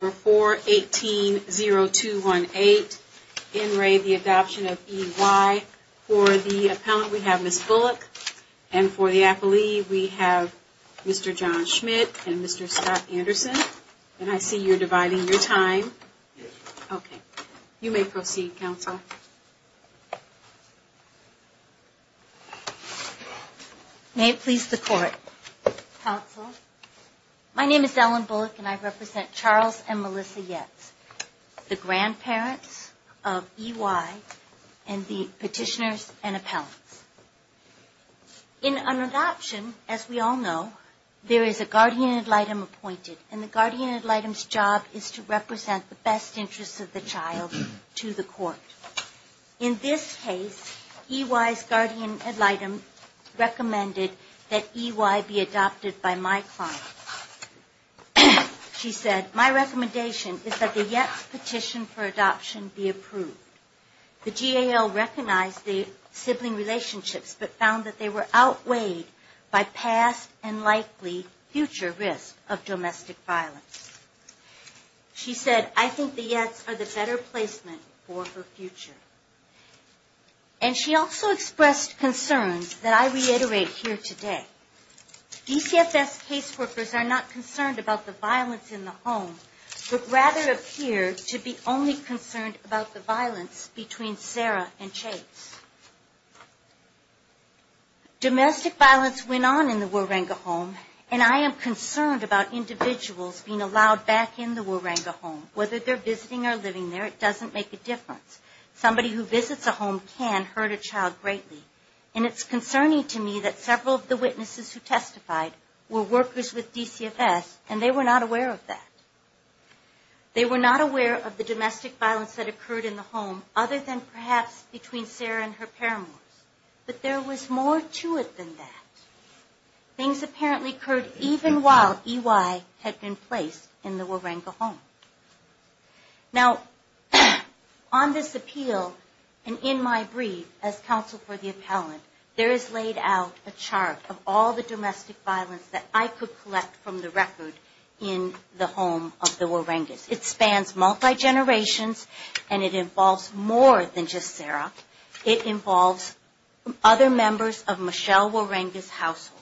For the Appellant we have Ms. Bullock, and for the Appellee we have Mr. John Schmidt and Mr. Scott Anderson, and I see you're dividing your time. You may proceed, Counsel. May it please the Court, Counsel. My name is Ellen Bullock, and I represent Charles and Melissa Yetz, the grandparents of E.Y. and the Petitioners and Appellants. In an adoption, as we all know, there is a guardian ad litem appointed, and the guardian ad litem's job is to represent the best interests of the child to the Court. In this case, E.Y.'s guardian ad litem recommended that E.Y. be adopted by my client. She said, my recommendation is that the Yetz petition for adoption be approved. The GAL recognized the sibling relationships, but found that they were outweighed by past and likely future risk of domestic violence. She said, I think the Yetz are the better placement for her future. And she also expressed concerns that I reiterate here today. DCFS caseworkers are not concerned about the violence in the home, but rather appear to be only concerned about the violence between Sarah and Chase. Domestic violence went on in the Wuranga home, and I am concerned about individuals being allowed back in the Wuranga home. Whether they're visiting or living there, it doesn't make a difference. Somebody who visits a home can hurt a child greatly. And it's concerning to me that several of the witnesses who testified were workers with DCFS, and they were not aware of that. They were not aware of the domestic violence that occurred in the home, other than perhaps between Sarah and her paramours. But there was more to it than that. Things apparently occurred even while E.Y. had been placed in the Wuranga home. Now, on this appeal, and in my brief as counsel for the appellant, there is laid out a chart of all the domestic violence that I could collect from the record in the home of the Wurangas. It spans multi-generations, and it involves more than just Sarah. It involves other members of Michelle Wuranga's household.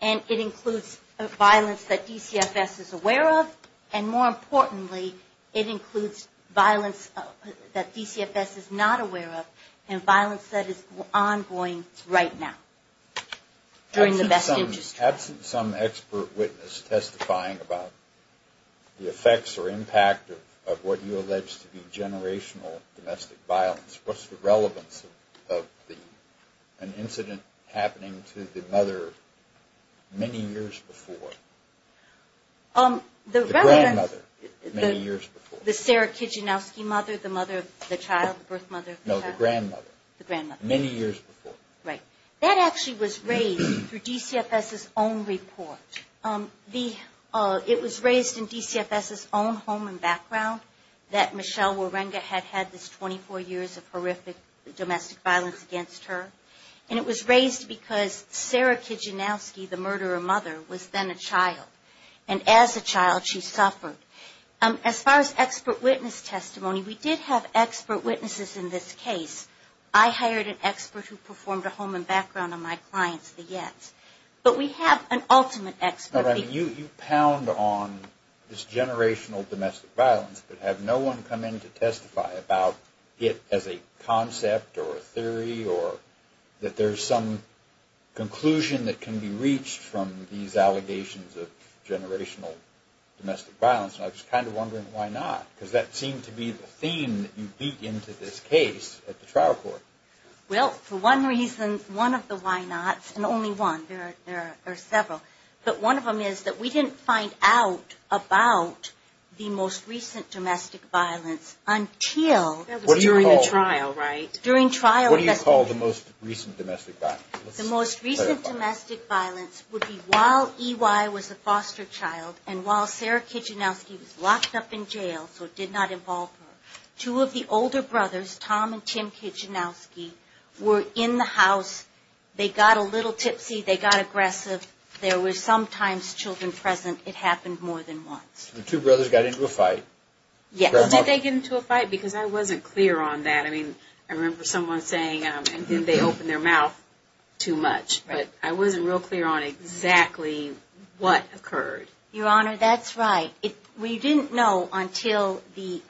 And it includes violence that DCFS is aware of, and more importantly, it includes violence that DCFS is not aware of, and violence that is ongoing right now. During the best interest of time. Absent some expert witness testifying about the effects or impact of what you allege to be generational domestic violence, what's the relevance of an incident happening to the mother many years before? The grandmother many years before. The Sarah Kijanowski mother, the mother of the child, the birth mother of the child? The grandmother many years before. Right. That actually was raised through DCFS's own report. It was raised in DCFS's own home and background that Michelle Wuranga had had this 24 years of horrific domestic violence against her. And it was raised because Sarah Kijanowski, the murderer mother, was then a child. And as a child, she suffered. As far as expert witness testimony, we did have expert witnesses in this case. I hired an expert who performed a home and background on my clients, the Yetts. But we have an ultimate expert. You pound on this generational domestic violence, but have no one come in to testify about it as a concept or a theory or that there's some conclusion that can be reached from these allegations of generational domestic violence. And I was kind of wondering why not, because that seemed to be the theme that you beat into this case at the trial court. Well, for one reason, one of the why nots, and only one. There are several. But one of them is that we didn't find out about the most recent domestic violence until... That was during the trial, right? What do you call the most recent domestic violence? The most recent domestic violence would be while EY was a foster child, and while Sarah Kijanowski was locked up in jail, so it did not involve her, two of the older brothers, Tom and Tim Kijanowski, were in the house. They got a little tipsy. They got aggressive. There were sometimes children present. It happened more than once. The two brothers got into a fight? Yes. Did they get into a fight? No, they didn't get into a fight, because I wasn't clear on that. I mean, I remember someone saying, and then they opened their mouth too much. But I wasn't real clear on exactly what occurred. Your Honor, that's right. We didn't know until the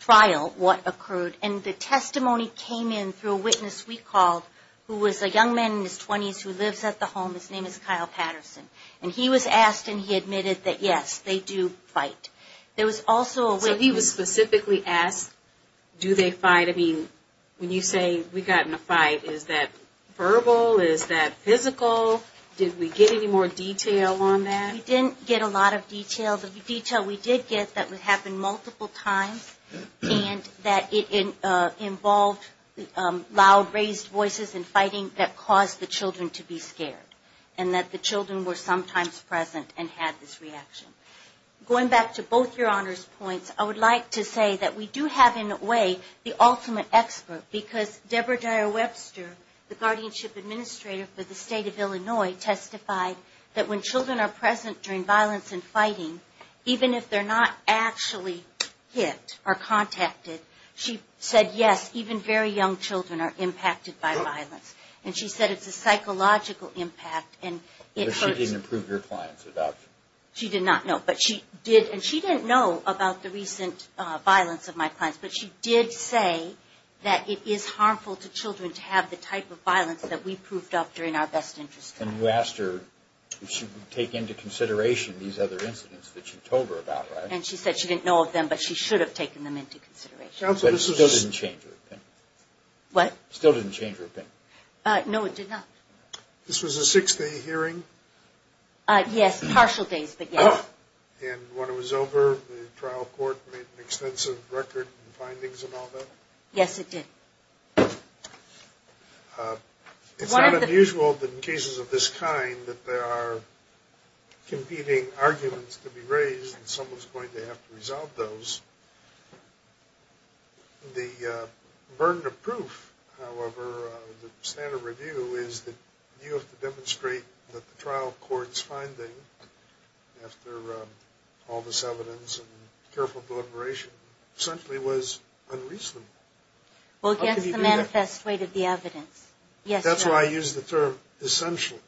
trial what occurred, and the testimony came in through a witness we called who was a young man in his 20s who lives at the home. His name is Kyle Patterson, and he was asked and he admitted that, yes, they do fight. So he was specifically asked, do they fight? I mean, when you say, we got in a fight, is that verbal? Is that physical? Did we get any more detail on that? We didn't get a lot of detail. Well, the detail we did get, that it happened multiple times, and that it involved loud, raised voices in fighting that caused the children to be scared. And that the children were sometimes present and had this reaction. Going back to both Your Honor's points, I would like to say that we do have in a way the ultimate expert, because Deborah Dyer Webster, the guardianship administrator for the State of Illinois, testified that when children are present during violence and fighting, even if they're not actually hit or contacted, she said, yes, even very young children are impacted by violence. And she said it's a psychological impact, and it hurts. But she didn't prove your client's adoption? She did not, no. And she didn't know about the recent violence of my clients, but she did say that it is harmful to children to have the type of violence that we proved up during our best interest time. And you asked her if she would take into consideration these other incidents that you told her about, right? And she said she didn't know of them, but she should have taken them into consideration. But it still didn't change her opinion? No, it did not. This was a six-day hearing? Yes, partial days, but yes. And when it was over, the trial court made an extensive record of findings and all that? Yes, it did. It's not unusual in cases of this kind that there are competing arguments to be raised, and someone's going to have to resolve those. The burden of proof, however, of the standard review is that you have to demonstrate that the trial court's finding, after all this evidence and careful deliberation, essentially was unreasonable. Well, guess the manifest weight of the evidence. That's why I use the term essentially.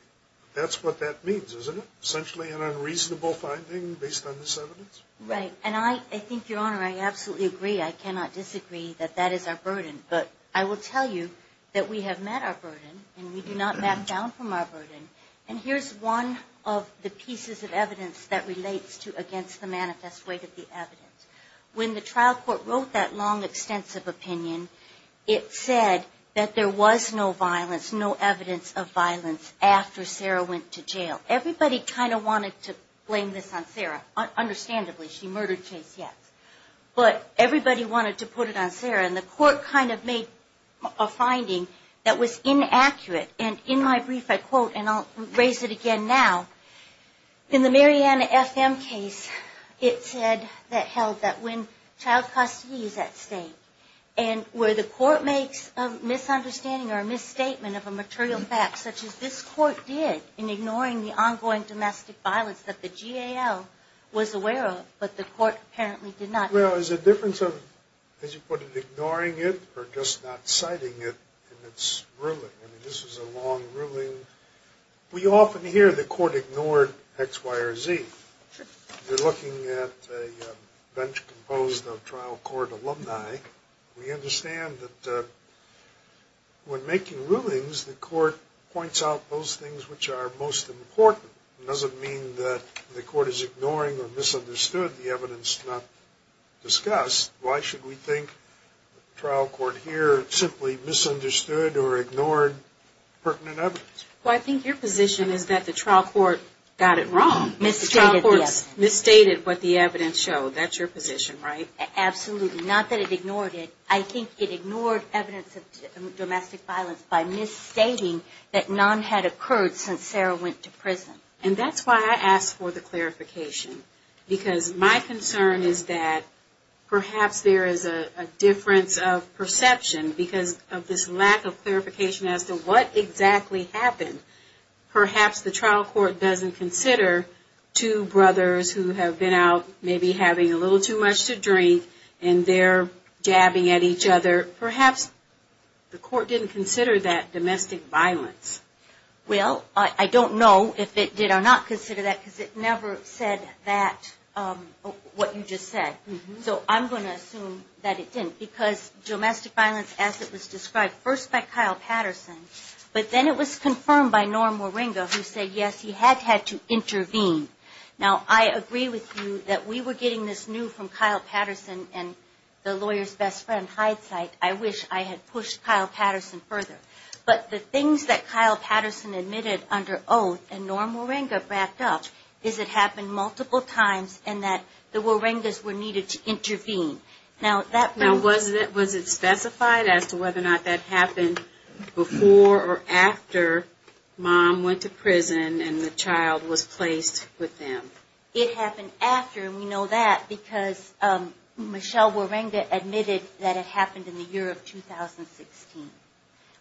That's what that means, isn't it? Essentially an unreasonable finding based on this evidence? Right. And I think, Your Honor, I absolutely agree. I cannot disagree that that is our burden. But I will tell you that we have met our burden, and we do not map down from our burden. And here's one of the pieces of evidence that relates to against the manifest weight of the evidence. When the trial court wrote that long, extensive opinion, it said that there was no violence, no evidence of violence after Sarah went to jail. Everybody kind of wanted to blame this on Sarah, understandably. She murdered Chase Yates. But everybody wanted to put it on Sarah, and the court kind of made a finding that was inaccurate. And in my brief, I quote, and I'll raise it again now, in the Mariana F.M. case, it said that held that when child custody is at stake, and where the court makes a misunderstanding or a misstatement of a material fact, such as this court did, in ignoring the other evidence, that the trial court's finding was inaccurate. There was ongoing domestic violence that the GAL was aware of, but the court apparently did not. Well, there's a difference of, as you put it, ignoring it or just not citing it in its ruling. I mean, this is a long ruling. We often hear the court ignored X, Y, or Z. If you're looking at a bench composed of trial court alumni, we understand that when making rulings, the court points out those things which are most important. It doesn't mean that the court is ignoring or misunderstood the evidence not discussed. Why should we think the trial court here simply misunderstood or ignored pertinent evidence? Well, I think your position is that the trial court got it wrong. Misstated what the evidence showed. That's your position, right? Absolutely. Not that it ignored it. I think it ignored evidence of domestic violence by misstating that none had occurred since Sarah went to prison. And that's why I asked for the clarification. Because my concern is that perhaps there is a difference of perception because of this lack of clarification as to what exactly happened. Perhaps the trial court doesn't consider two brothers who have been out maybe having a little too much to drink and they're jabbing at each other. Perhaps the court didn't consider that domestic violence. Well, I don't know if it did or not consider that because it never said that, what you just said. So I'm going to assume that it didn't because domestic violence as it was described, first by Kyle Patterson, but then it was confirmed by Norm Moringa who said, yes, he had had to intervene. Now, I agree with you that we were getting this new from Kyle Patterson and the lawyer's best friend, Hidesight. I wish I had pushed Kyle Patterson further. But the things that Kyle Patterson admitted under oath and Norm Moringa backed up is it happened multiple times and that the Moringas were needed to intervene. Now, was it specified as to whether or not that happened before or after mom went to prison and the child was placed with them? It happened after and we know that because Michelle Moringa admitted that it happened in the evening. It happened in January of 2016,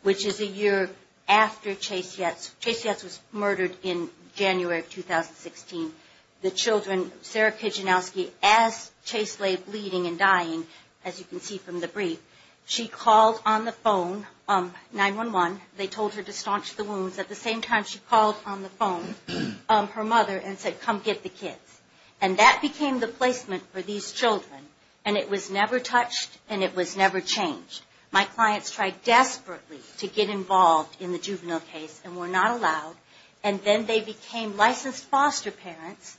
which is a year after Chase Yates. Chase Yates was murdered in January of 2016. The children, Sarah Kijanowski, as Chase lay bleeding and dying, as you can see from the brief, she called on the phone, 911. They told her to staunch the wounds. At the same time, she called on the phone, her mother, and said, come get the kids. And that became the placement for these children and it was never touched and it was never changed. My clients tried desperately to get involved in the juvenile case and were not allowed. And then they became licensed foster parents,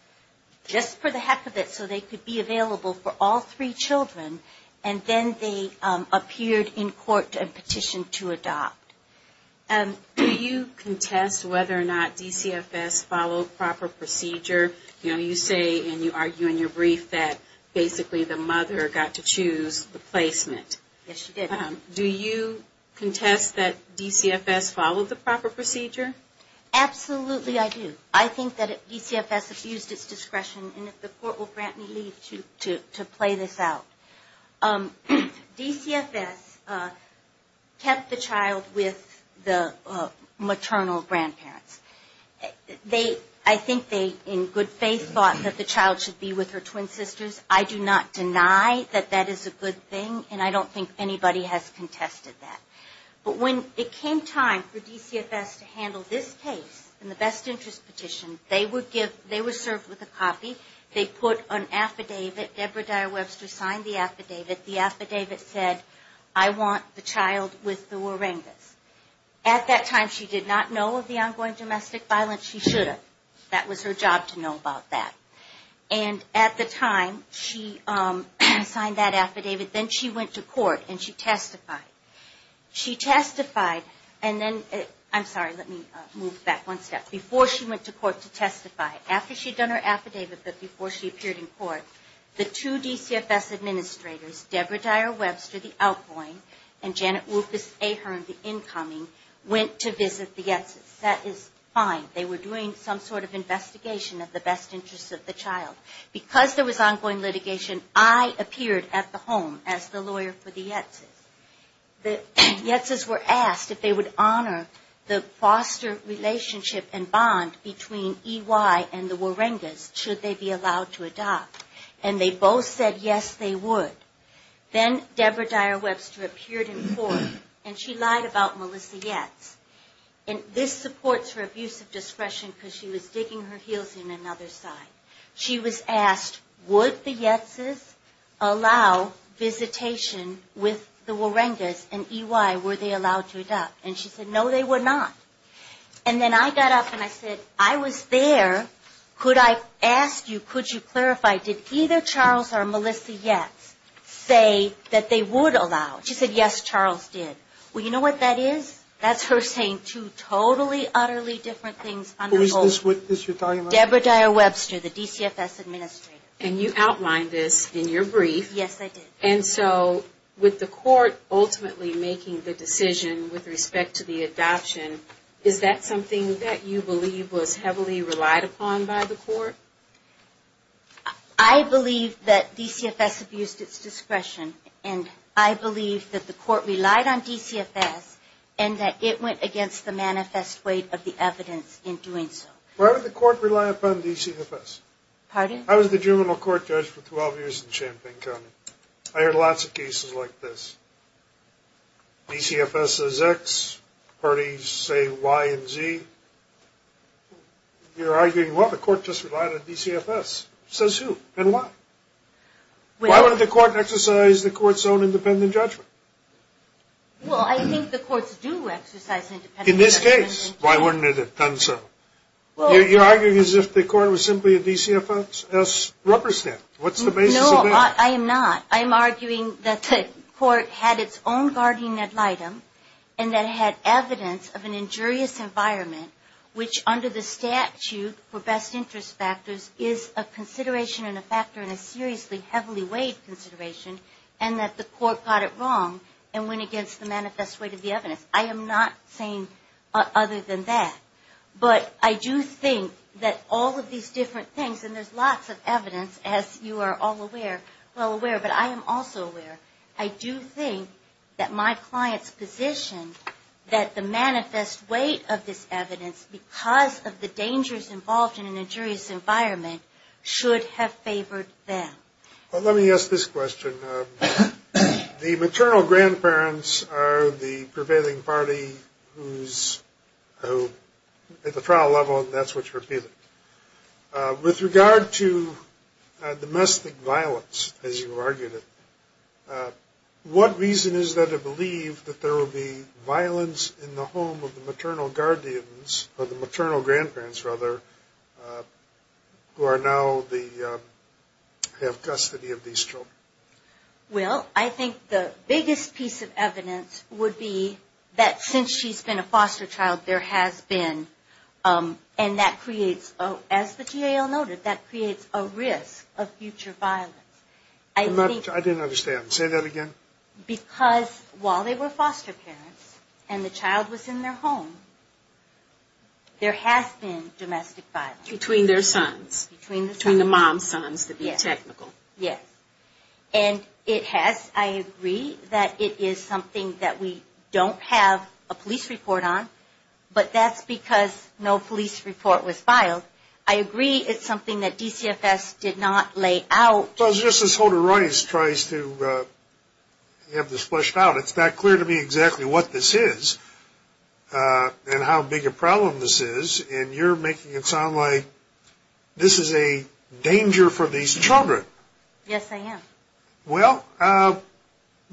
just for the heck of it, so they could be available for all three children. And then they appeared in court and petitioned to adopt. Do you contest whether or not DCFS followed proper procedure? You know, you say and you argue in your brief that basically the mother got to choose the placement. Yes, she did. Do you contest that DCFS followed the proper procedure? Absolutely, I do. I think that DCFS abused its discretion and the court will grant me leave to play this out. DCFS kept the child with the maternal grandparents. I think they, in good faith, thought that the child should be with her twin sisters. I do not deny that that is a good thing and I don't think anybody has contested that. But when it came time for DCFS to handle this case and the best interest petition, they were served with a copy. They put an affidavit. Deborah Dyer-Webster signed the affidavit. The affidavit said, I want the child with the Warangas. At that time, she did not know of the ongoing domestic violence. She should have. That was her job to know about that. And at the time she signed that affidavit, then she went to court and she testified. She testified and then, I'm sorry, let me move back one step. Before she went to court to testify, after she had done her affidavit, but before she appeared in court, the two DCFS administrators, Deborah Dyer-Webster, the outgoing, and Janet Wilkes-Ahern, the incoming, went to visit the Yetzes. That is fine. They were doing some sort of investigation of the best interest of the child. Because there was ongoing litigation, I appeared at the home as the lawyer for the Yetzes. The Yetzes were asked if they would honor the foster relationship and bond between E.Y. and the Warangas, should they be allowed to adopt. And they both said yes, they would. Then Deborah Dyer-Webster appeared in court and she lied about Melissa Yetz. And this supports her abuse of discretion because she was digging her heels in another side. She was asked, would the Yetzes allow visitation with the Warangas and E.Y., were they allowed to adopt? And she said, no, they were not. And then I got up and I said, I was there. Could I ask you, could you clarify, did either Charles or Melissa Yetz say that they would allow? She said, yes, Charles did. Well, you know what that is? That's her saying two totally, utterly different things on the whole. Who is this witness you're talking about? Deborah Dyer-Webster, the DCFS administrator. And you outlined this in your brief. Yes, I did. And so with the court ultimately making the decision with respect to the adoption, is that something that you believe was heavily relied upon by the court? I believe that DCFS abused its discretion. And I believe that the court relied on DCFS and that it went against the manifest weight of the evidence in doing so. Why did the court rely upon DCFS? I was the juvenile court judge for 12 years in Champaign County. I heard lots of cases like this. DCFS says X, parties say Y and Z. You're arguing, well, the court just relied on DCFS. Says who and why? Why wouldn't the court exercise the court's own independent judgment? Well, I think the courts do exercise independent judgment. In this case, why wouldn't it have done so? You're arguing as if the court was simply a DCFS rubber stamp. No, I am not. I am arguing that the court had its own guardian ad litem and that it had evidence of an injurious environment, which under the statute for best interest factors is a consideration and a factor in a seriously heavily weighed consideration, and that the court got it wrong and went against the manifest weight of the evidence. I am not saying other than that. But I do think that all of these different things, and there's lots of evidence, as you are all aware, well aware, but I am also aware, I do think that my client's position that the manifest weight of this evidence because of the dangers involved in an injurious environment should have favored them. Well, let me ask this question. The maternal grandparents are the prevailing party who's at the trial level, and that's what's repeated. With regard to domestic violence, as you argued it, what reason is there to believe that there will be violence in the home of the maternal guardians, or the maternal grandparents, rather, who are now the, have custody of these children? Well, I think the biggest piece of evidence would be that since she's been a foster child, there has been, and that creates, as the GAL noted, that creates a risk of future violence. I didn't understand. Say that again. Because while they were foster parents and the child was in their home, there has been domestic violence. Between their sons, between the mom's sons, to be technical. Yes, and it has, I agree that it is something that we don't have a police report on, but that's because no police report was filed. I agree it's something that DCFS did not lay out. Well, just as Holder Rice tries to have this fleshed out, it's not clear to me exactly what this is, and how big a problem this is, and you're making it sound like this is a danger for these children. Yes, I am. Well,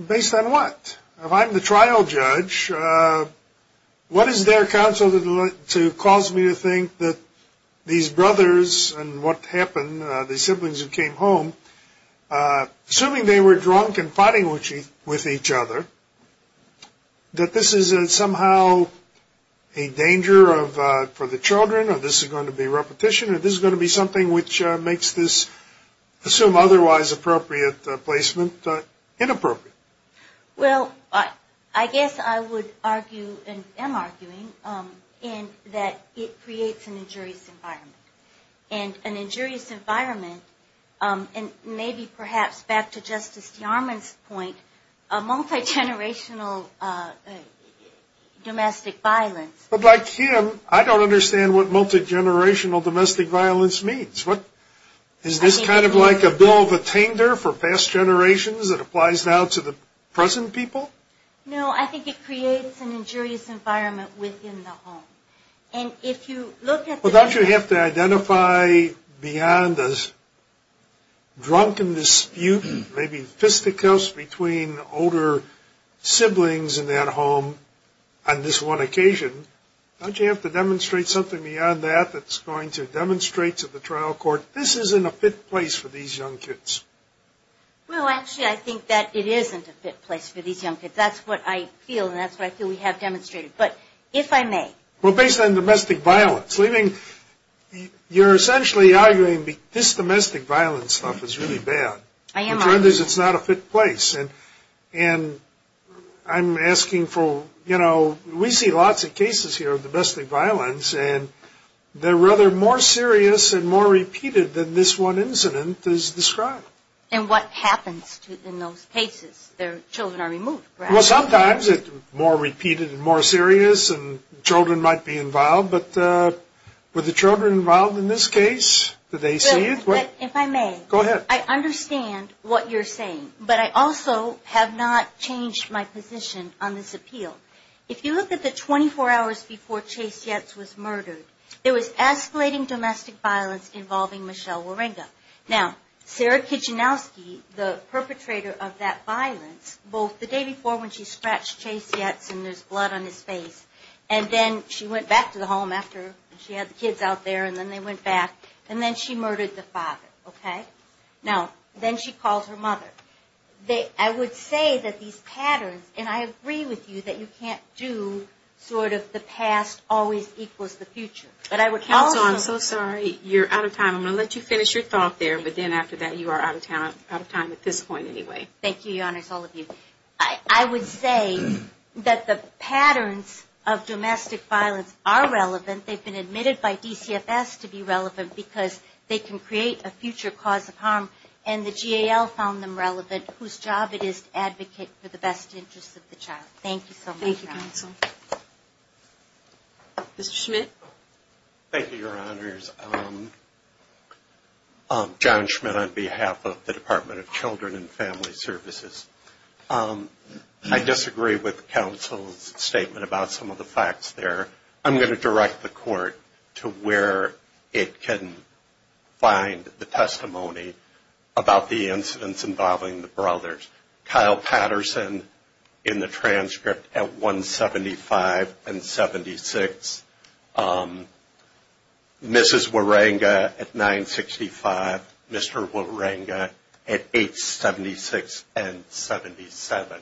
based on what? If I'm the trial judge, what is there, counsel, to cause me to think that these brothers, and what happened, the siblings who came home, assuming they were drunk and fighting with each other, that this is somehow a danger for the children, or this is going to be repetition, or this is going to be something which makes this, assume otherwise appropriate placement, inappropriate? Well, I guess I would argue, and am arguing, that it creates an injurious environment. And an injurious environment, and maybe perhaps back to Justice Yarman's point, a multigenerational domestic violence. But like him, I don't understand what multigenerational domestic violence means. Is this kind of like a bill of attainder for past generations that applies now to the present people? No, I think it creates an injurious environment within the home. Well, don't you have to identify beyond a drunken dispute, maybe fisticuffs, between older siblings in that home on this one occasion? Don't you have to demonstrate something beyond that that's going to demonstrate to the trial court, this isn't a fit place for these young kids? Well, actually, I think that it isn't a fit place for these young kids. That's what I feel, and that's what I feel we have demonstrated. But if I may. Well, based on domestic violence, you're essentially arguing this domestic violence stuff is really bad. The trend is it's not a fit place. And I'm asking for, you know, we see lots of cases here of domestic violence, and they're rather more serious and more repeated than this one incident is described. And what happens in those cases? Their children are removed, right? Well, sometimes it's more repeated and more serious, and children might be involved. But with the children involved in this case, do they see it? If I may. Go ahead. I understand what you're saying, but I also have not changed my position on this appeal. If you look at the 24 hours before Chase Yates was murdered, there was escalating domestic violence involving Michelle Waringa. Now, Sarah Kijanowski, the perpetrator of that violence, both the day before when she scratched Chase Yates and there's blood on his face, and then she went back to the home after she had the kids out there, and then they went back, and then she murdered the father, okay? Now, then she called her mother. I would say that these patterns, and I agree with you that you can't do sort of the past always equals the future. Also, I'm so sorry, you're out of time. I'm going to let you finish your thought there, but then after that you are out of time at this point anyway. Thank you, Your Honors, all of you. I would say that the patterns of domestic violence are relevant. They've been admitted by DCFS to be relevant because they can create a future cause of harm, and the GAL found them relevant, whose job it is to advocate for the best interest of the child. Thank you so much. Mr. Schmidt. Thank you, Your Honors. John Schmidt on behalf of the Department of Children and Family Services. I disagree with counsel's statement about some of the facts there. I'm going to direct the court to where it can find the testimony about the incidents involving the brothers. Kyle Patterson in the transcript at 175 and 76. Mrs. Waringa at 965. Mr. Waringa at 876 and 77.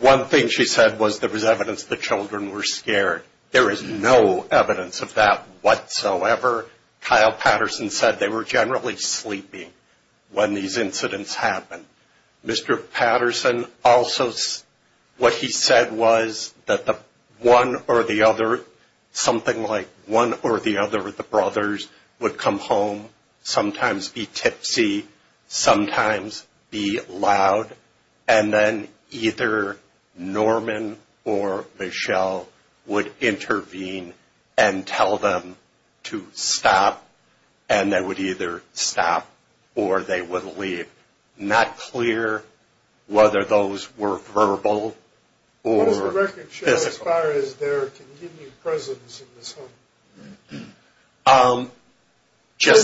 One thing she said was there was evidence the children were scared. There is no evidence of that whatsoever. Kyle Patterson said they were generally sleeping when these incidents happened. Mr. Patterson also, what he said was that the one or the other, something like one or the other of the brothers would come home, sometimes be tipsy, sometimes be loud, and then either Norman or Michelle would intervene and tell them to stop, and they would either stop or they would leave. Not clear whether those were verbal or physical. What does the record show as far as their continued presence in this home?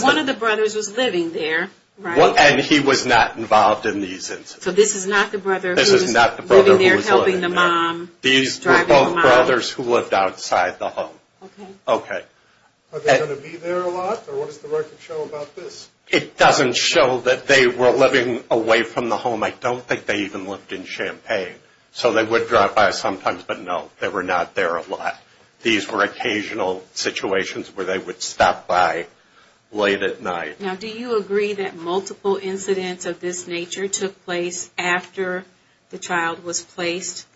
One of the brothers was living there, right? And he was not involved in these incidents. So this is not the brother who was living there helping the mom? These were both brothers who lived outside the home. Are they going to be there a lot, or what does the record show about this? It doesn't show that they were living away from the home. I don't think they even lived in Champaign. So they would drop by sometimes, but no, they were not there a lot. These were occasional situations where they would stop by late at night. Now, do you agree that multiple incidents of this nature took place after the child was placed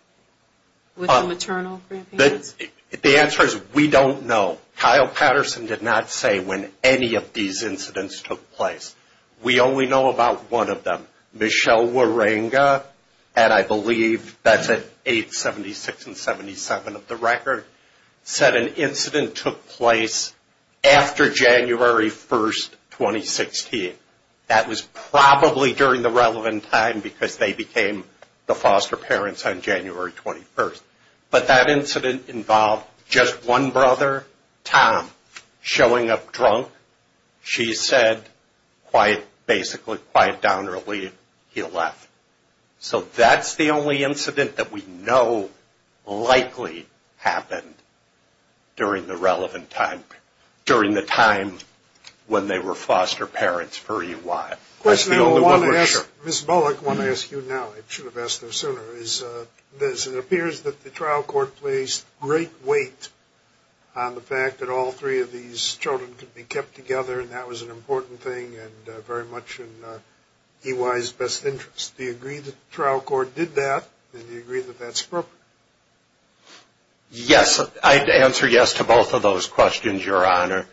with the maternal grandparents? The answer is we don't know. Kyle Patterson did not say when any of these incidents took place. We only know about one of them. Michelle Waringa, and I believe that's at 876 and 77 of the record, said an incident took place after January 1st, 2016. That was probably during the relevant time because they became the foster parents on January 21st. But that incident involved just one brother, Tom, showing up drunk. She said, basically, quite downrightly, he left. So that's the only incident that we know likely happened during the relevant time, during the time when they were foster parents for EY. The question I want to ask, Ms. Bullock, I want to ask you now. It appears that the trial court placed great weight on the fact that all three of these children could be kept together, and that was an important thing and very much in EY's best interest. Do you agree that the trial court did that, and do you agree that that's appropriate? Yes, I'd answer yes to both of those questions, Your Honor.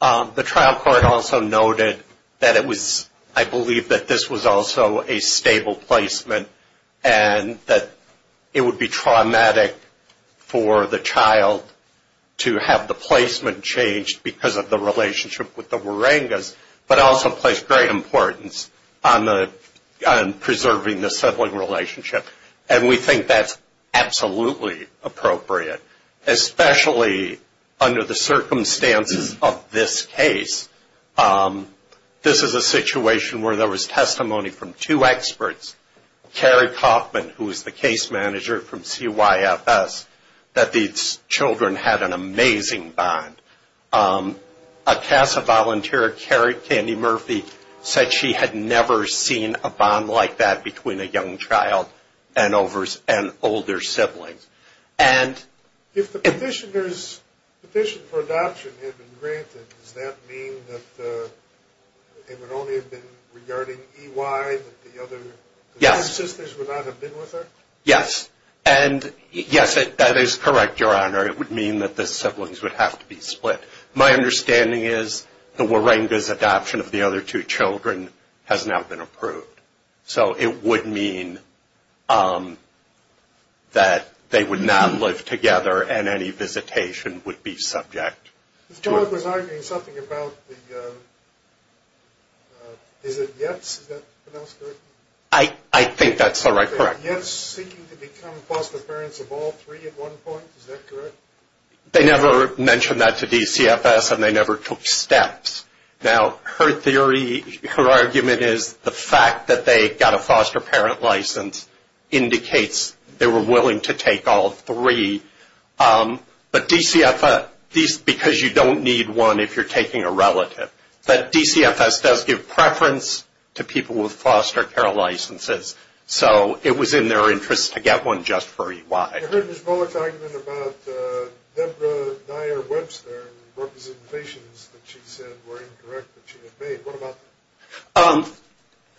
The trial court also noted that it was, I believe that this was also a stable placement, and that it would be traumatic for the child to have the placement changed because of the relationship with the Waringas, but also placed great importance on preserving the sibling relationship, and we think that's absolutely appropriate, especially under the circumstances of this case. This is a situation where there was testimony from two experts, Carrie Kaufman, who was the case manager from CYFS, that these children had an amazing bond. A CASA volunteer, Carrie Candy Murphy, said she had never seen a bond like that between a young child and older siblings. If the petitioner's petition for adoption had been granted, does that mean that it would only have been regarding EY, that the other sisters would not have been with her? Yes, and yes, that is correct, Your Honor. It would mean that the siblings would have to be split. My understanding is the Waringas' adoption of the other two children has now been approved, so it would mean that they would not live together, and any visitation would be subject to it. The child was arguing something about the, is it Yetz, is that pronounced correctly? I think that's all right, correct. They never mentioned that to DCFS, and they never took steps. Now, her theory, her argument is the fact that they got a foster parent license indicates they were willing to take all three, but DCFS, because you don't need one if you're taking a relative, but DCFS does give preference to people with foster care licenses, so it was in their interest to get one just for EY. I heard Ms. Bullock's argument about Deborah Nyer-Webster and the representations that she said were incorrect that she had made. What about that?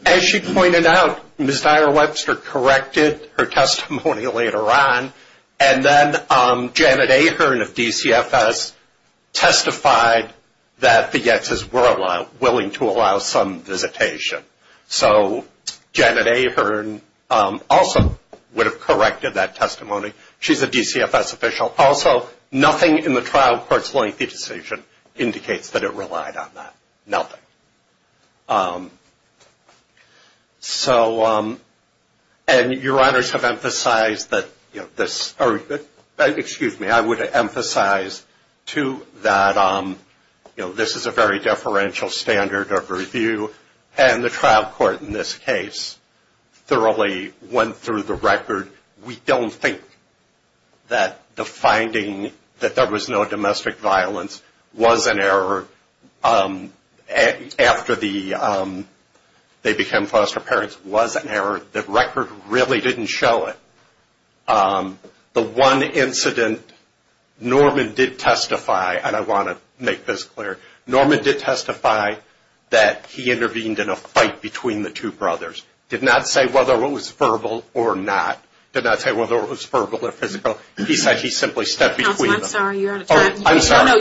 As she pointed out, Ms. Nyer-Webster corrected her testimony later on, and then Janet Ahern of DCFS testified that the Yetz's were willing to allow some visitation, so Janet Ahern also would have corrected that testimony. She's a DCFS official. Also, nothing in the trial court's lengthy decision indicates that it relied on that. Nothing. So, and Your Honors have emphasized that this, or excuse me, I would emphasize too that this is a very deferential standard of review, and the trial court in this case thoroughly went through the record. We don't think that the finding that there was no domestic violence was an error after the they became foster parents was an error. The record really didn't show it. The one incident Norman did testify, and I want to make this clear, Norman did testify that he intervened in a fight between the two brothers. Did not say whether it was verbal or not. He said he simply stepped between them. I just want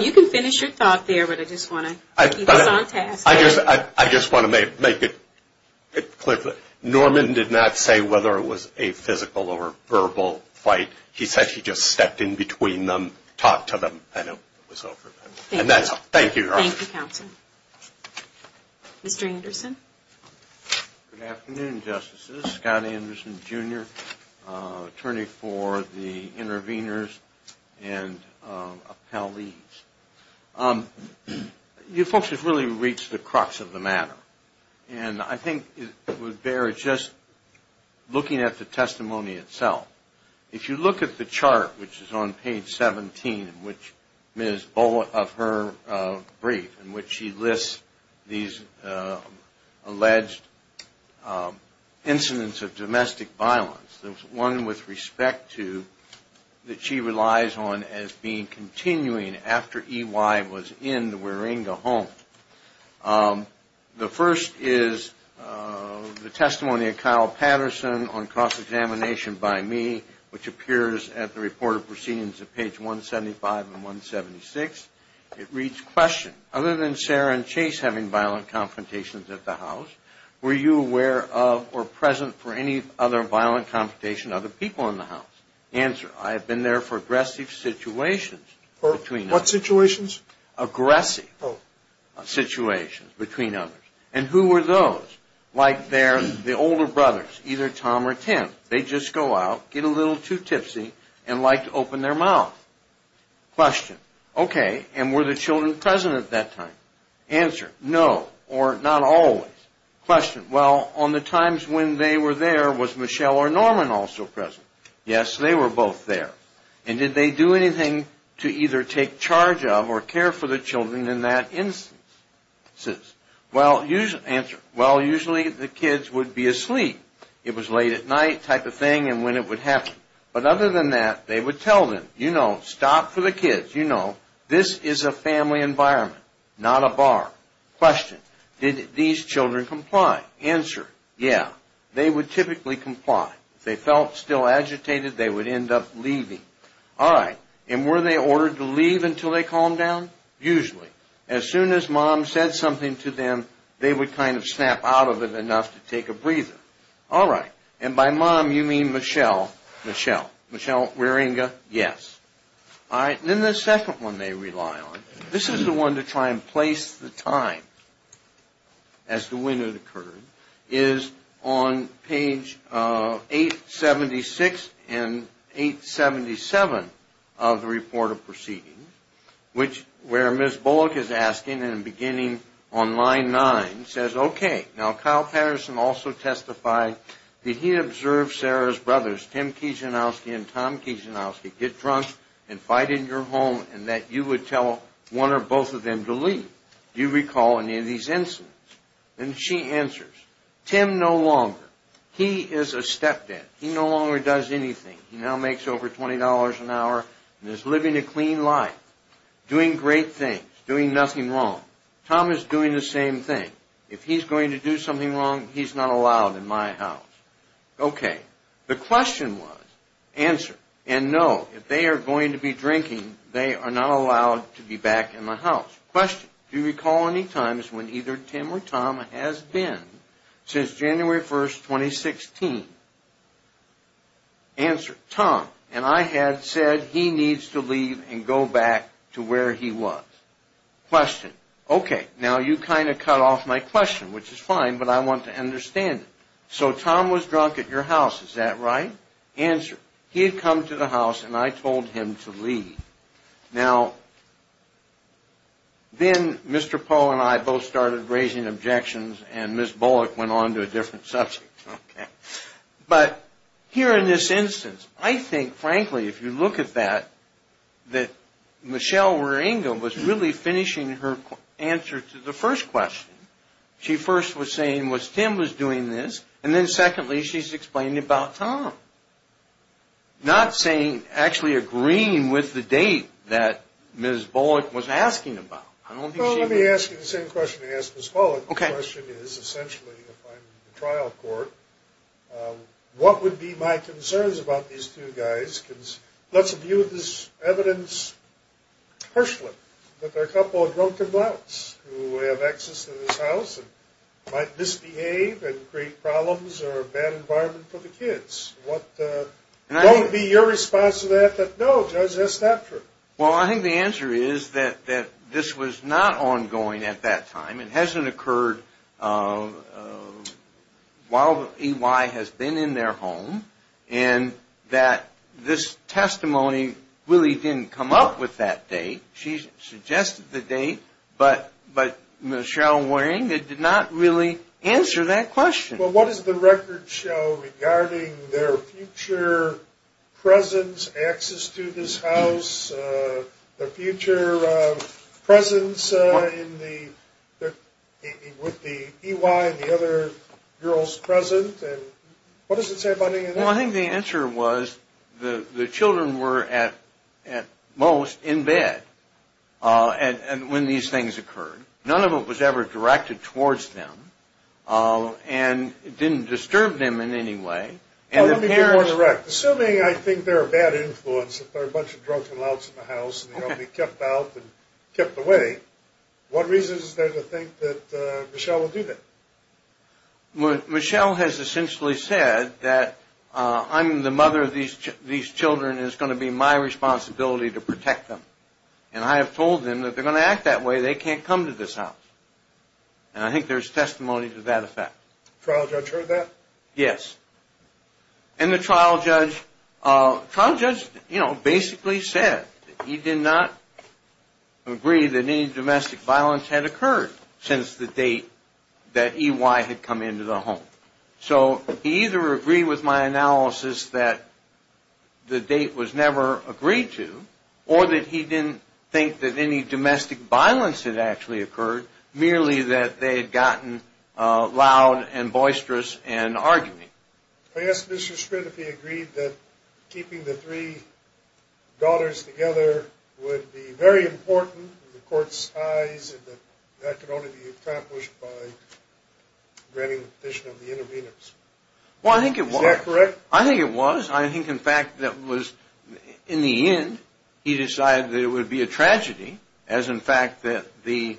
to make it clear. Norman did not say whether it was a physical or verbal fight. He said he just stepped in between them, talked to them, and it was over. Thank you. Thank you, Counsel. Mr. Anderson. Good afternoon, Justices. Scott Anderson, Jr., attorney for the intervenors and appellees. You folks have really reached the crux of the matter, and I think it would bear just looking at the testimony itself. If you look at the chart, which is on page 17 of her brief, in which she lists these alleged incidents of domestic violence, there's one with respect to that she relies on as being continuing after E.Y. was in the Waringa home. The first is the testimony of Kyle Patterson on cross-examination by me, which appears at the report of proceedings of page 175 and 176. It reads, question, other than Sarah and Chase having violent confrontations at the house, were you aware of or present for any other violent confrontation of other people in the house? Answer, I have been there for aggressive situations between us. What situations? Aggressive situations between others. And who were those? Like the older brothers, either Tom or Tim. They'd just go out, get a little too tipsy, and like to open their mouth. Question, okay, and were the children present at that time? Answer, no, or not always. Question, well, on the times when they were there, was Michelle or Norman also present? Yes, they were both there. And did they do anything to either take charge of or care for the children in that instance? Answer, well, usually the kids would be asleep. It was late at night type of thing, and when it would happen. But other than that, they would tell them, you know, stop for the kids, you know, this is a family environment, not a bar. Question, did these children comply? Answer, yeah, they would typically comply. If they felt still agitated, they would end up leaving. All right, and were they ordered to leave until they calmed down? Usually. As soon as mom said something to them, they would kind of snap out of it enough to take a breather. All right, and by mom you mean Michelle? Michelle. Michelle Wieringa, yes. All right, and then the second one they rely on, this is the one to try and place the time as to when it occurred, is on page 876 and 877 of the report of proceedings, which where Ms. Bullock is asking, and beginning on line 9, says, okay, now Kyle Patterson also testified that he observed Sarah's brothers, Tim Kijanowski and Tom Kijanowski, get drunk and that you would tell one or both of them to leave. Do you recall any of these incidents? And she answers, Tim no longer. He is a stepdad. He no longer does anything. He now makes over $20 an hour and is living a clean life, doing great things, doing nothing wrong. Tom is doing the same thing. If he's going to do something wrong, he's not allowed in my house. Okay, the he's not allowed to be back in the house. Question, do you recall any times when either Tim or Tom has been since January 1, 2016? Answer, Tom, and I had said he needs to leave and go back to where he was. Question, okay, now you kind of cut off my question, which is fine, but I want to understand it. So Tom was drunk at your house, is that right? Answer, he had come to the house and I told him to leave. Now, then Mr. Poe and I both started raising objections and Ms. Bullock went on to a different subject. But here in this instance, I think, frankly, if you look at that, that Michelle Waringa was really finishing her answer to the first question. She first was saying was Tim was doing this, and then secondly, she's explaining about Tom. Not saying, actually agreeing with the date that Ms. Bullock was asking about. I don't think she was. Well, let me ask you the same question I asked Ms. Bullock. Okay. The question is essentially, if I'm in the trial court, what would be my concerns about these two guys? Let's view this evidence partially. But there are a couple of drunken blouts who have access to this house and might misbehave and create problems or a bad environment for the kids. What would be your response to that? No, Judge, that's not true. Well, I think the answer is that this was not ongoing at that time. It hasn't occurred while EY has been in their home and that this testimony really didn't come up with that date. She suggested the date, but Michelle Waringa did not really answer that question. Well, what does the record show regarding their future presence, access to this house, their future presence with the EY and the other girls present? What does it say about any of that? Well, I think the answer was the children were at most in bed when these things occurred. None of it was ever directed towards them and it didn't disturb them in any way. Well, let me be more direct. Assuming I think they're a bad influence, that there are a bunch of drunken blouts in the house and that Michelle will do that. Michelle has essentially said that I'm the mother of these children and it's going to be my responsibility to protect them. And I have told them that if they're going to act that way, they can't come to this house. And I think there's testimony to that effect. The trial judge heard that? Yes. And the trial judge basically said that he did not agree that any domestic violence had occurred since the date that EY had come into the home. So he either agreed with my analysis that the date was never agreed to or that he didn't think that any domestic violence had actually occurred, merely that they had gotten loud and boisterous and arguing. I asked Mr. Sprint if he agreed that keeping the three daughters together would be very important in the court's eyes and that that could only be accomplished by granting the petition of the intervenors. Well, I think it was. Is that correct? I think it was. I think in fact that was in the end, he decided that it would be a tragedy as in fact that the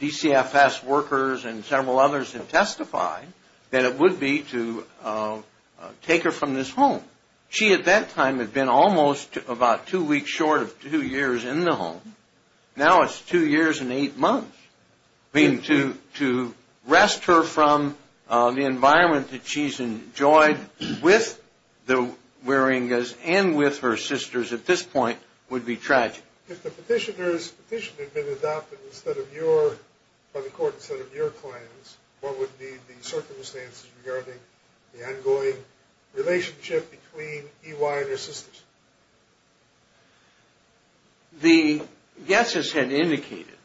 DCFS workers and several others had testified that it would be to take her from this home. She at that time had been almost about two weeks short of two years in the home. Now it's two years and eight months. I mean to wrest her from the environment that she's enjoyed with the Waringas and with her sisters at this point would be tragic. If the petitioners petition had been adopted by the court instead of your clients, what would be the circumstances regarding the ongoing relationship between EY and her sisters? The guesses had indicated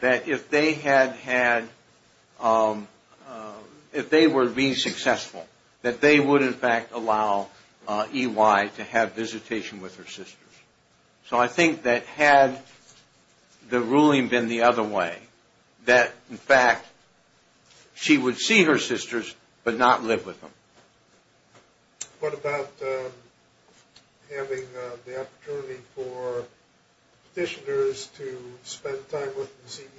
that if they had had if they were being successful that they would in fact allow EY to have visitation with her sisters. So I think that had the ruling been the other way that in fact she would see her sisters but not live with them. What about having the opportunity for petitioners to spend time with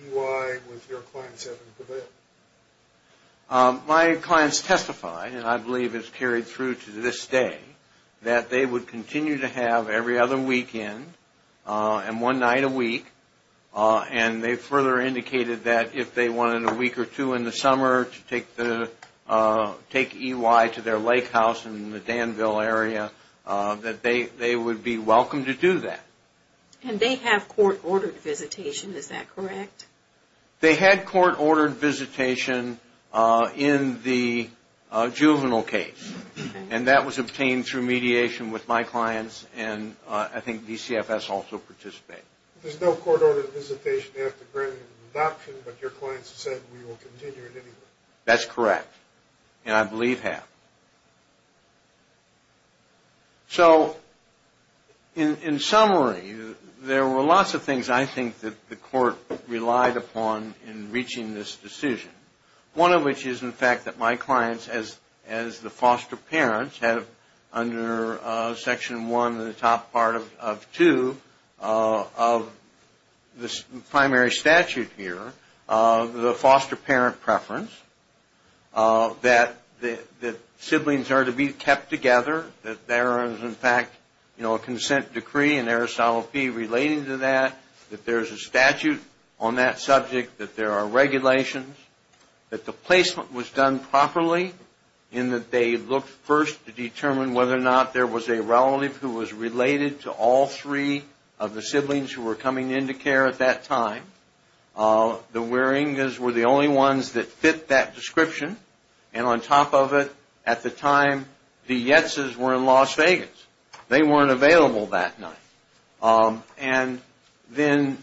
EY with your clients having to do that? My clients testified and I believe it's carried through to this day that they would continue to have every other weekend and one night a week and they further indicated that if they wanted a week or two in the summer to take EY to their lake house in the Danville area that they would be welcome to do that. And they have court ordered visitation, is that correct? They had court ordered visitation in the juvenile case and that was obtained through mediation with my clients and I think DCFS also participated. There's no court ordered visitation after granting the adoption but your clients said we will continue it anyway. That's correct and I believe have. So in summary there were lots of things I think that the court relied upon in reaching this decision. One of which is in fact that my clients as the foster parents have under Section 1 of the top part of 2 of the primary statute here the foster parent preference, that the siblings are to be kept together, that there is in fact a consent decree and there shall be relating to that, that there is a statute on that subject, that there are regulations, that the placement was done properly and that they looked first to determine whether or not there was a relative who was related to all three of the siblings who were coming into care at that time. The Wieringas were the only ones that fit that description and on top of it at the time the Yetzes were in Las Vegas. They weren't available that night. And then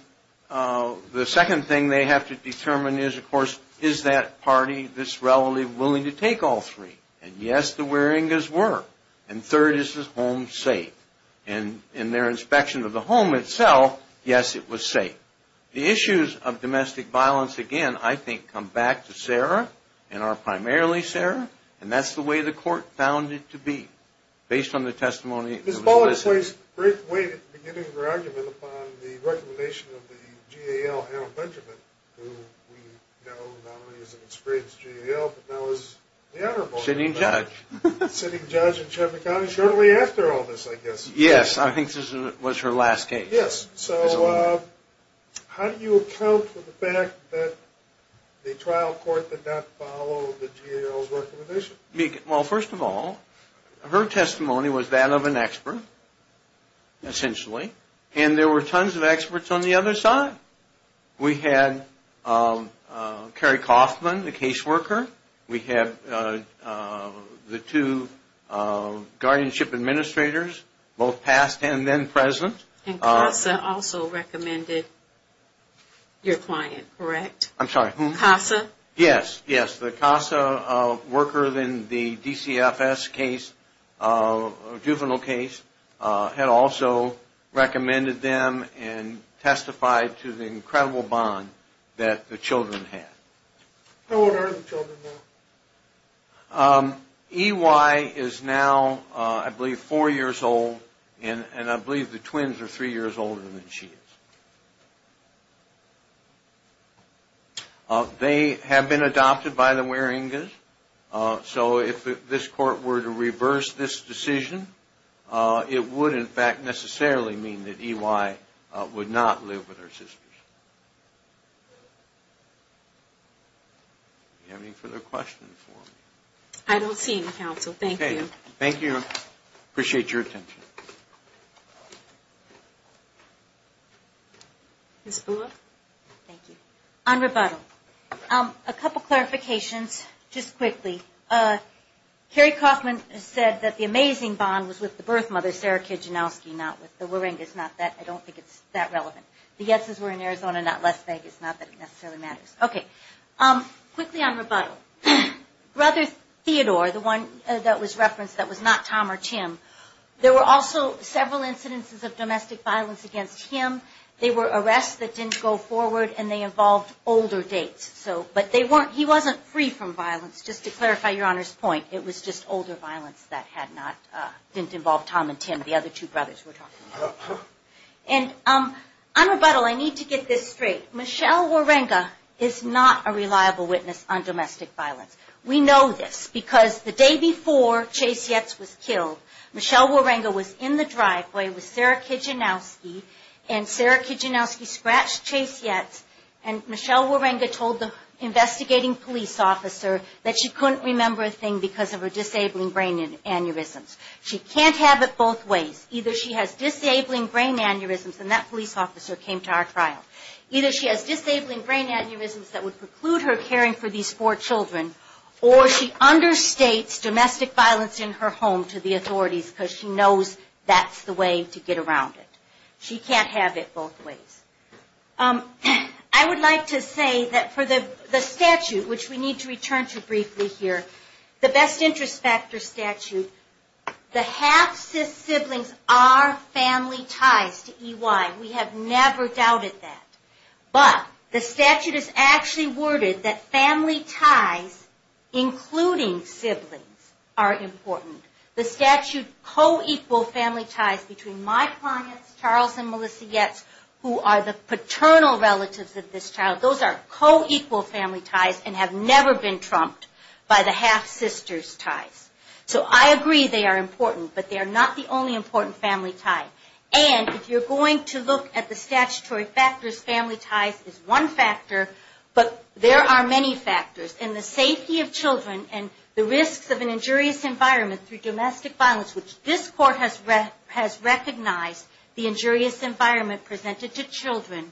the second thing they have to determine is of course is that party, this relative willing to take all three and yes the Wieringas were. And third is the home safe. And in their inspection of the home itself, yes it was safe. The issues of domestic violence again I think come back to Sarah and are primarily Sarah and that's the way the court found it to be based on the testimony that was listed. Question being asked. Question being asked. Sitting judge. Yes I think this was her last case. Question being asked. Well first of all her testimony was that of an expert essentially. And there were tons of experts on the other side. We had Kerry Coffman the case worker. We had the two guardianship administrators both past and then present. And CASA also recommended your client correct? I'm sorry who? CASA. Yes, yes the CASA worker in the DCFS case, juvenile case had also recommended them and testified to the incredible bond that the children had. How old are the children now? EY is now I believe four years old and I believe the twins are three years older than she is. They have been adopted by the Waringas so if this court were to reverse this decision it would in fact necessarily mean that EY would not live with her sisters. Do you have any further questions? I don't see any counsel, thank you. Thank you. Appreciate your attention. Ms. Bula. Thank you. On rebuttal. A couple clarifications just quickly. Kerry Coffman has said that the amazing bond was with the birth mother Sarah Kijanowski not with the Waringas. I don't think it's that relevant. The yeses were in Arizona not Las Vegas, not that it necessarily matters. Okay. Quickly on rebuttal. Brother Theodore, the one that was referenced that was not Tom or Tim, there were also several incidences of domestic violence against him. They were arrests that didn't go forward and they involved older dates. He wasn't free from violence, just to clarify your Honor's point. It was just older violence that didn't involve Tom and Tim, the other two brothers we're talking about. And on rebuttal, I need to get this straight. Michelle Waringa is not a reliable witness on domestic violence. We know this because the day before Chase Yates was killed, Michelle Waringa was in the driveway with Sarah Kijanowski and Sarah Kijanowski scratched Chase Yates and Michelle Waringa told the investigating police officer that she couldn't remember a thing because of her disabling brain aneurysms. She can't have it both ways. Either she has disabling brain aneurysms and that police officer came to our trial. Either she has disabling brain aneurysms that would preclude her caring for these four children, or she understates domestic violence in her home to the authorities because she knows that's the way to get around it. She can't have it both ways. I would like to say that for the statute, which we need to return to briefly here, the best interest factor statute, the half-siblings are family ties to EY. We have never doubted that. But the statute is actually worded that family ties, including siblings, are important. The statute co-equal family ties between my clients, Charles and Melissa Yates, who are the paternal relatives of this child. Those are co-equal family ties and have never been trumped by the half-sisters ties. So I agree they are important, but they are not the only important family tie. And if you're going to look at the statutory factors, family ties is one factor, but there are many factors. And the safety of children and the risks of an injurious environment through domestic violence, which this court has recognized the injurious environment presented to children,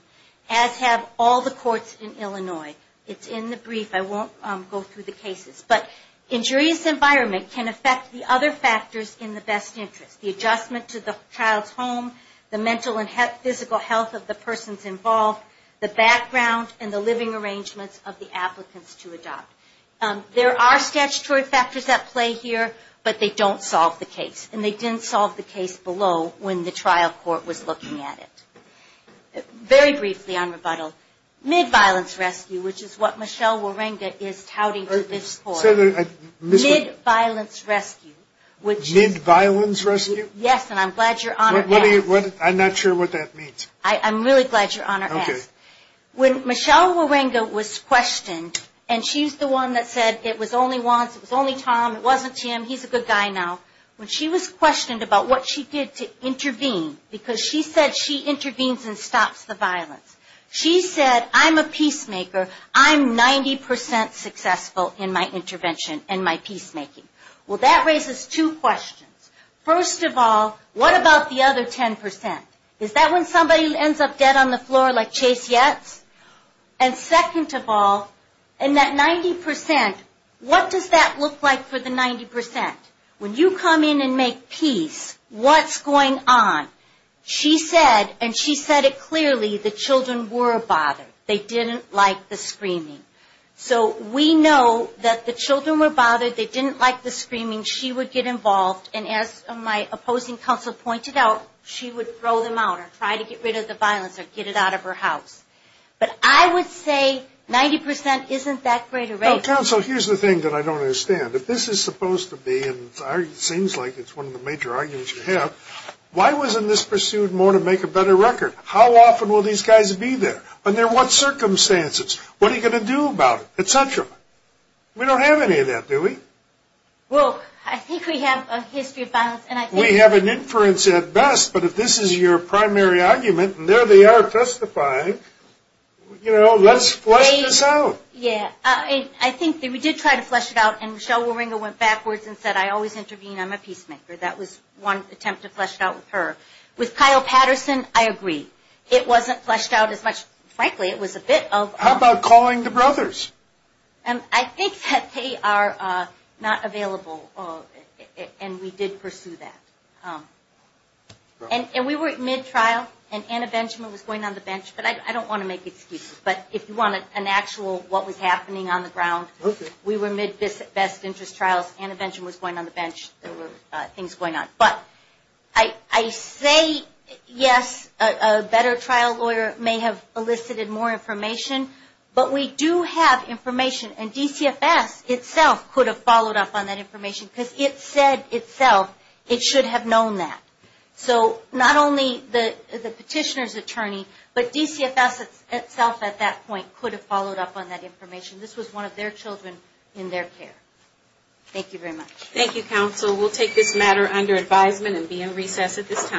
as have all the courts in Illinois. It's in the brief. I won't go through the cases. But injurious environment can affect the other factors in the best interest. The adjustment to the child's home, the mental and physical health of the persons involved, the background and the living arrangements of the applicants to adopt. There are statutory factors at play here, but they don't solve the case. And they didn't solve the case below when the trial court was looking at it. Very briefly on rebuttal, mid-violence rescue, which is what Michelle Waringa is touting to this court. Mid-violence rescue? Yes, and I'm glad your Honor asked. I'm not sure what that means. I'm really glad your Honor asked. When Michelle Waringa was questioned, and she's the one that said it was only once, it was only Tom, it wasn't him, he's a good guy now. When she was questioned about what she did to intervene, because she said she intervenes and stops the violence. She said, I'm a peacemaker, I'm 90% successful in my intervention and my children are 10%. Is that when somebody ends up dead on the floor like Chase Yates? And second of all, in that 90%, what does that look like for the 90%? When you come in and make peace, what's going on? She said, and she said it clearly, the children were bothered. They didn't like the screaming. So we know that the children were bothered, they didn't like the screaming, she would get involved and as my opposing counsel pointed out, she would throw them out or try to get rid of the violence or get it out of her house. But I would say 90% isn't that great a rate. Counsel, here's the thing that I don't understand. If this is supposed to be, and it seems like it's one of the major arguments you have, why wasn't this pursued more to make a better record? How often will these guys be there? Under what circumstances? What are you going to do about it? Et cetera. We don't have any of that, do we? Well, I think we have a history of violence. We have an inference at best, but if this is your primary argument, and there they are testifying, let's flesh this out. Yeah, I think that we did try to flesh it out, and Michelle Waringa went backwards and said, I always intervene, I'm a peacemaker. That was one attempt to flesh it out with her. With Kyle Patterson, I agree. It wasn't fleshed out as much. Frankly, it was a bit of... How about calling the brothers? I think that they are not available, and we did pursue that. And we were at mid-trial, and Anna Benjamin was going on the bench. I don't want to make excuses, but if you want an actual what was happening on the ground, we were mid-best interest trials. Anna Benjamin was going on the bench. There were things going on. I say, yes, a better trial lawyer may have elicited more information, but we do have information, and DCFS itself could have followed up on that information, because it said itself, it should have known that. So not only the petitioner's attorney, but DCFS itself at that point could have followed up on that information. This was one of their children in their care. Thank you very much. Thank you, counsel. We'll take this matter under advisement and be in recess at this time.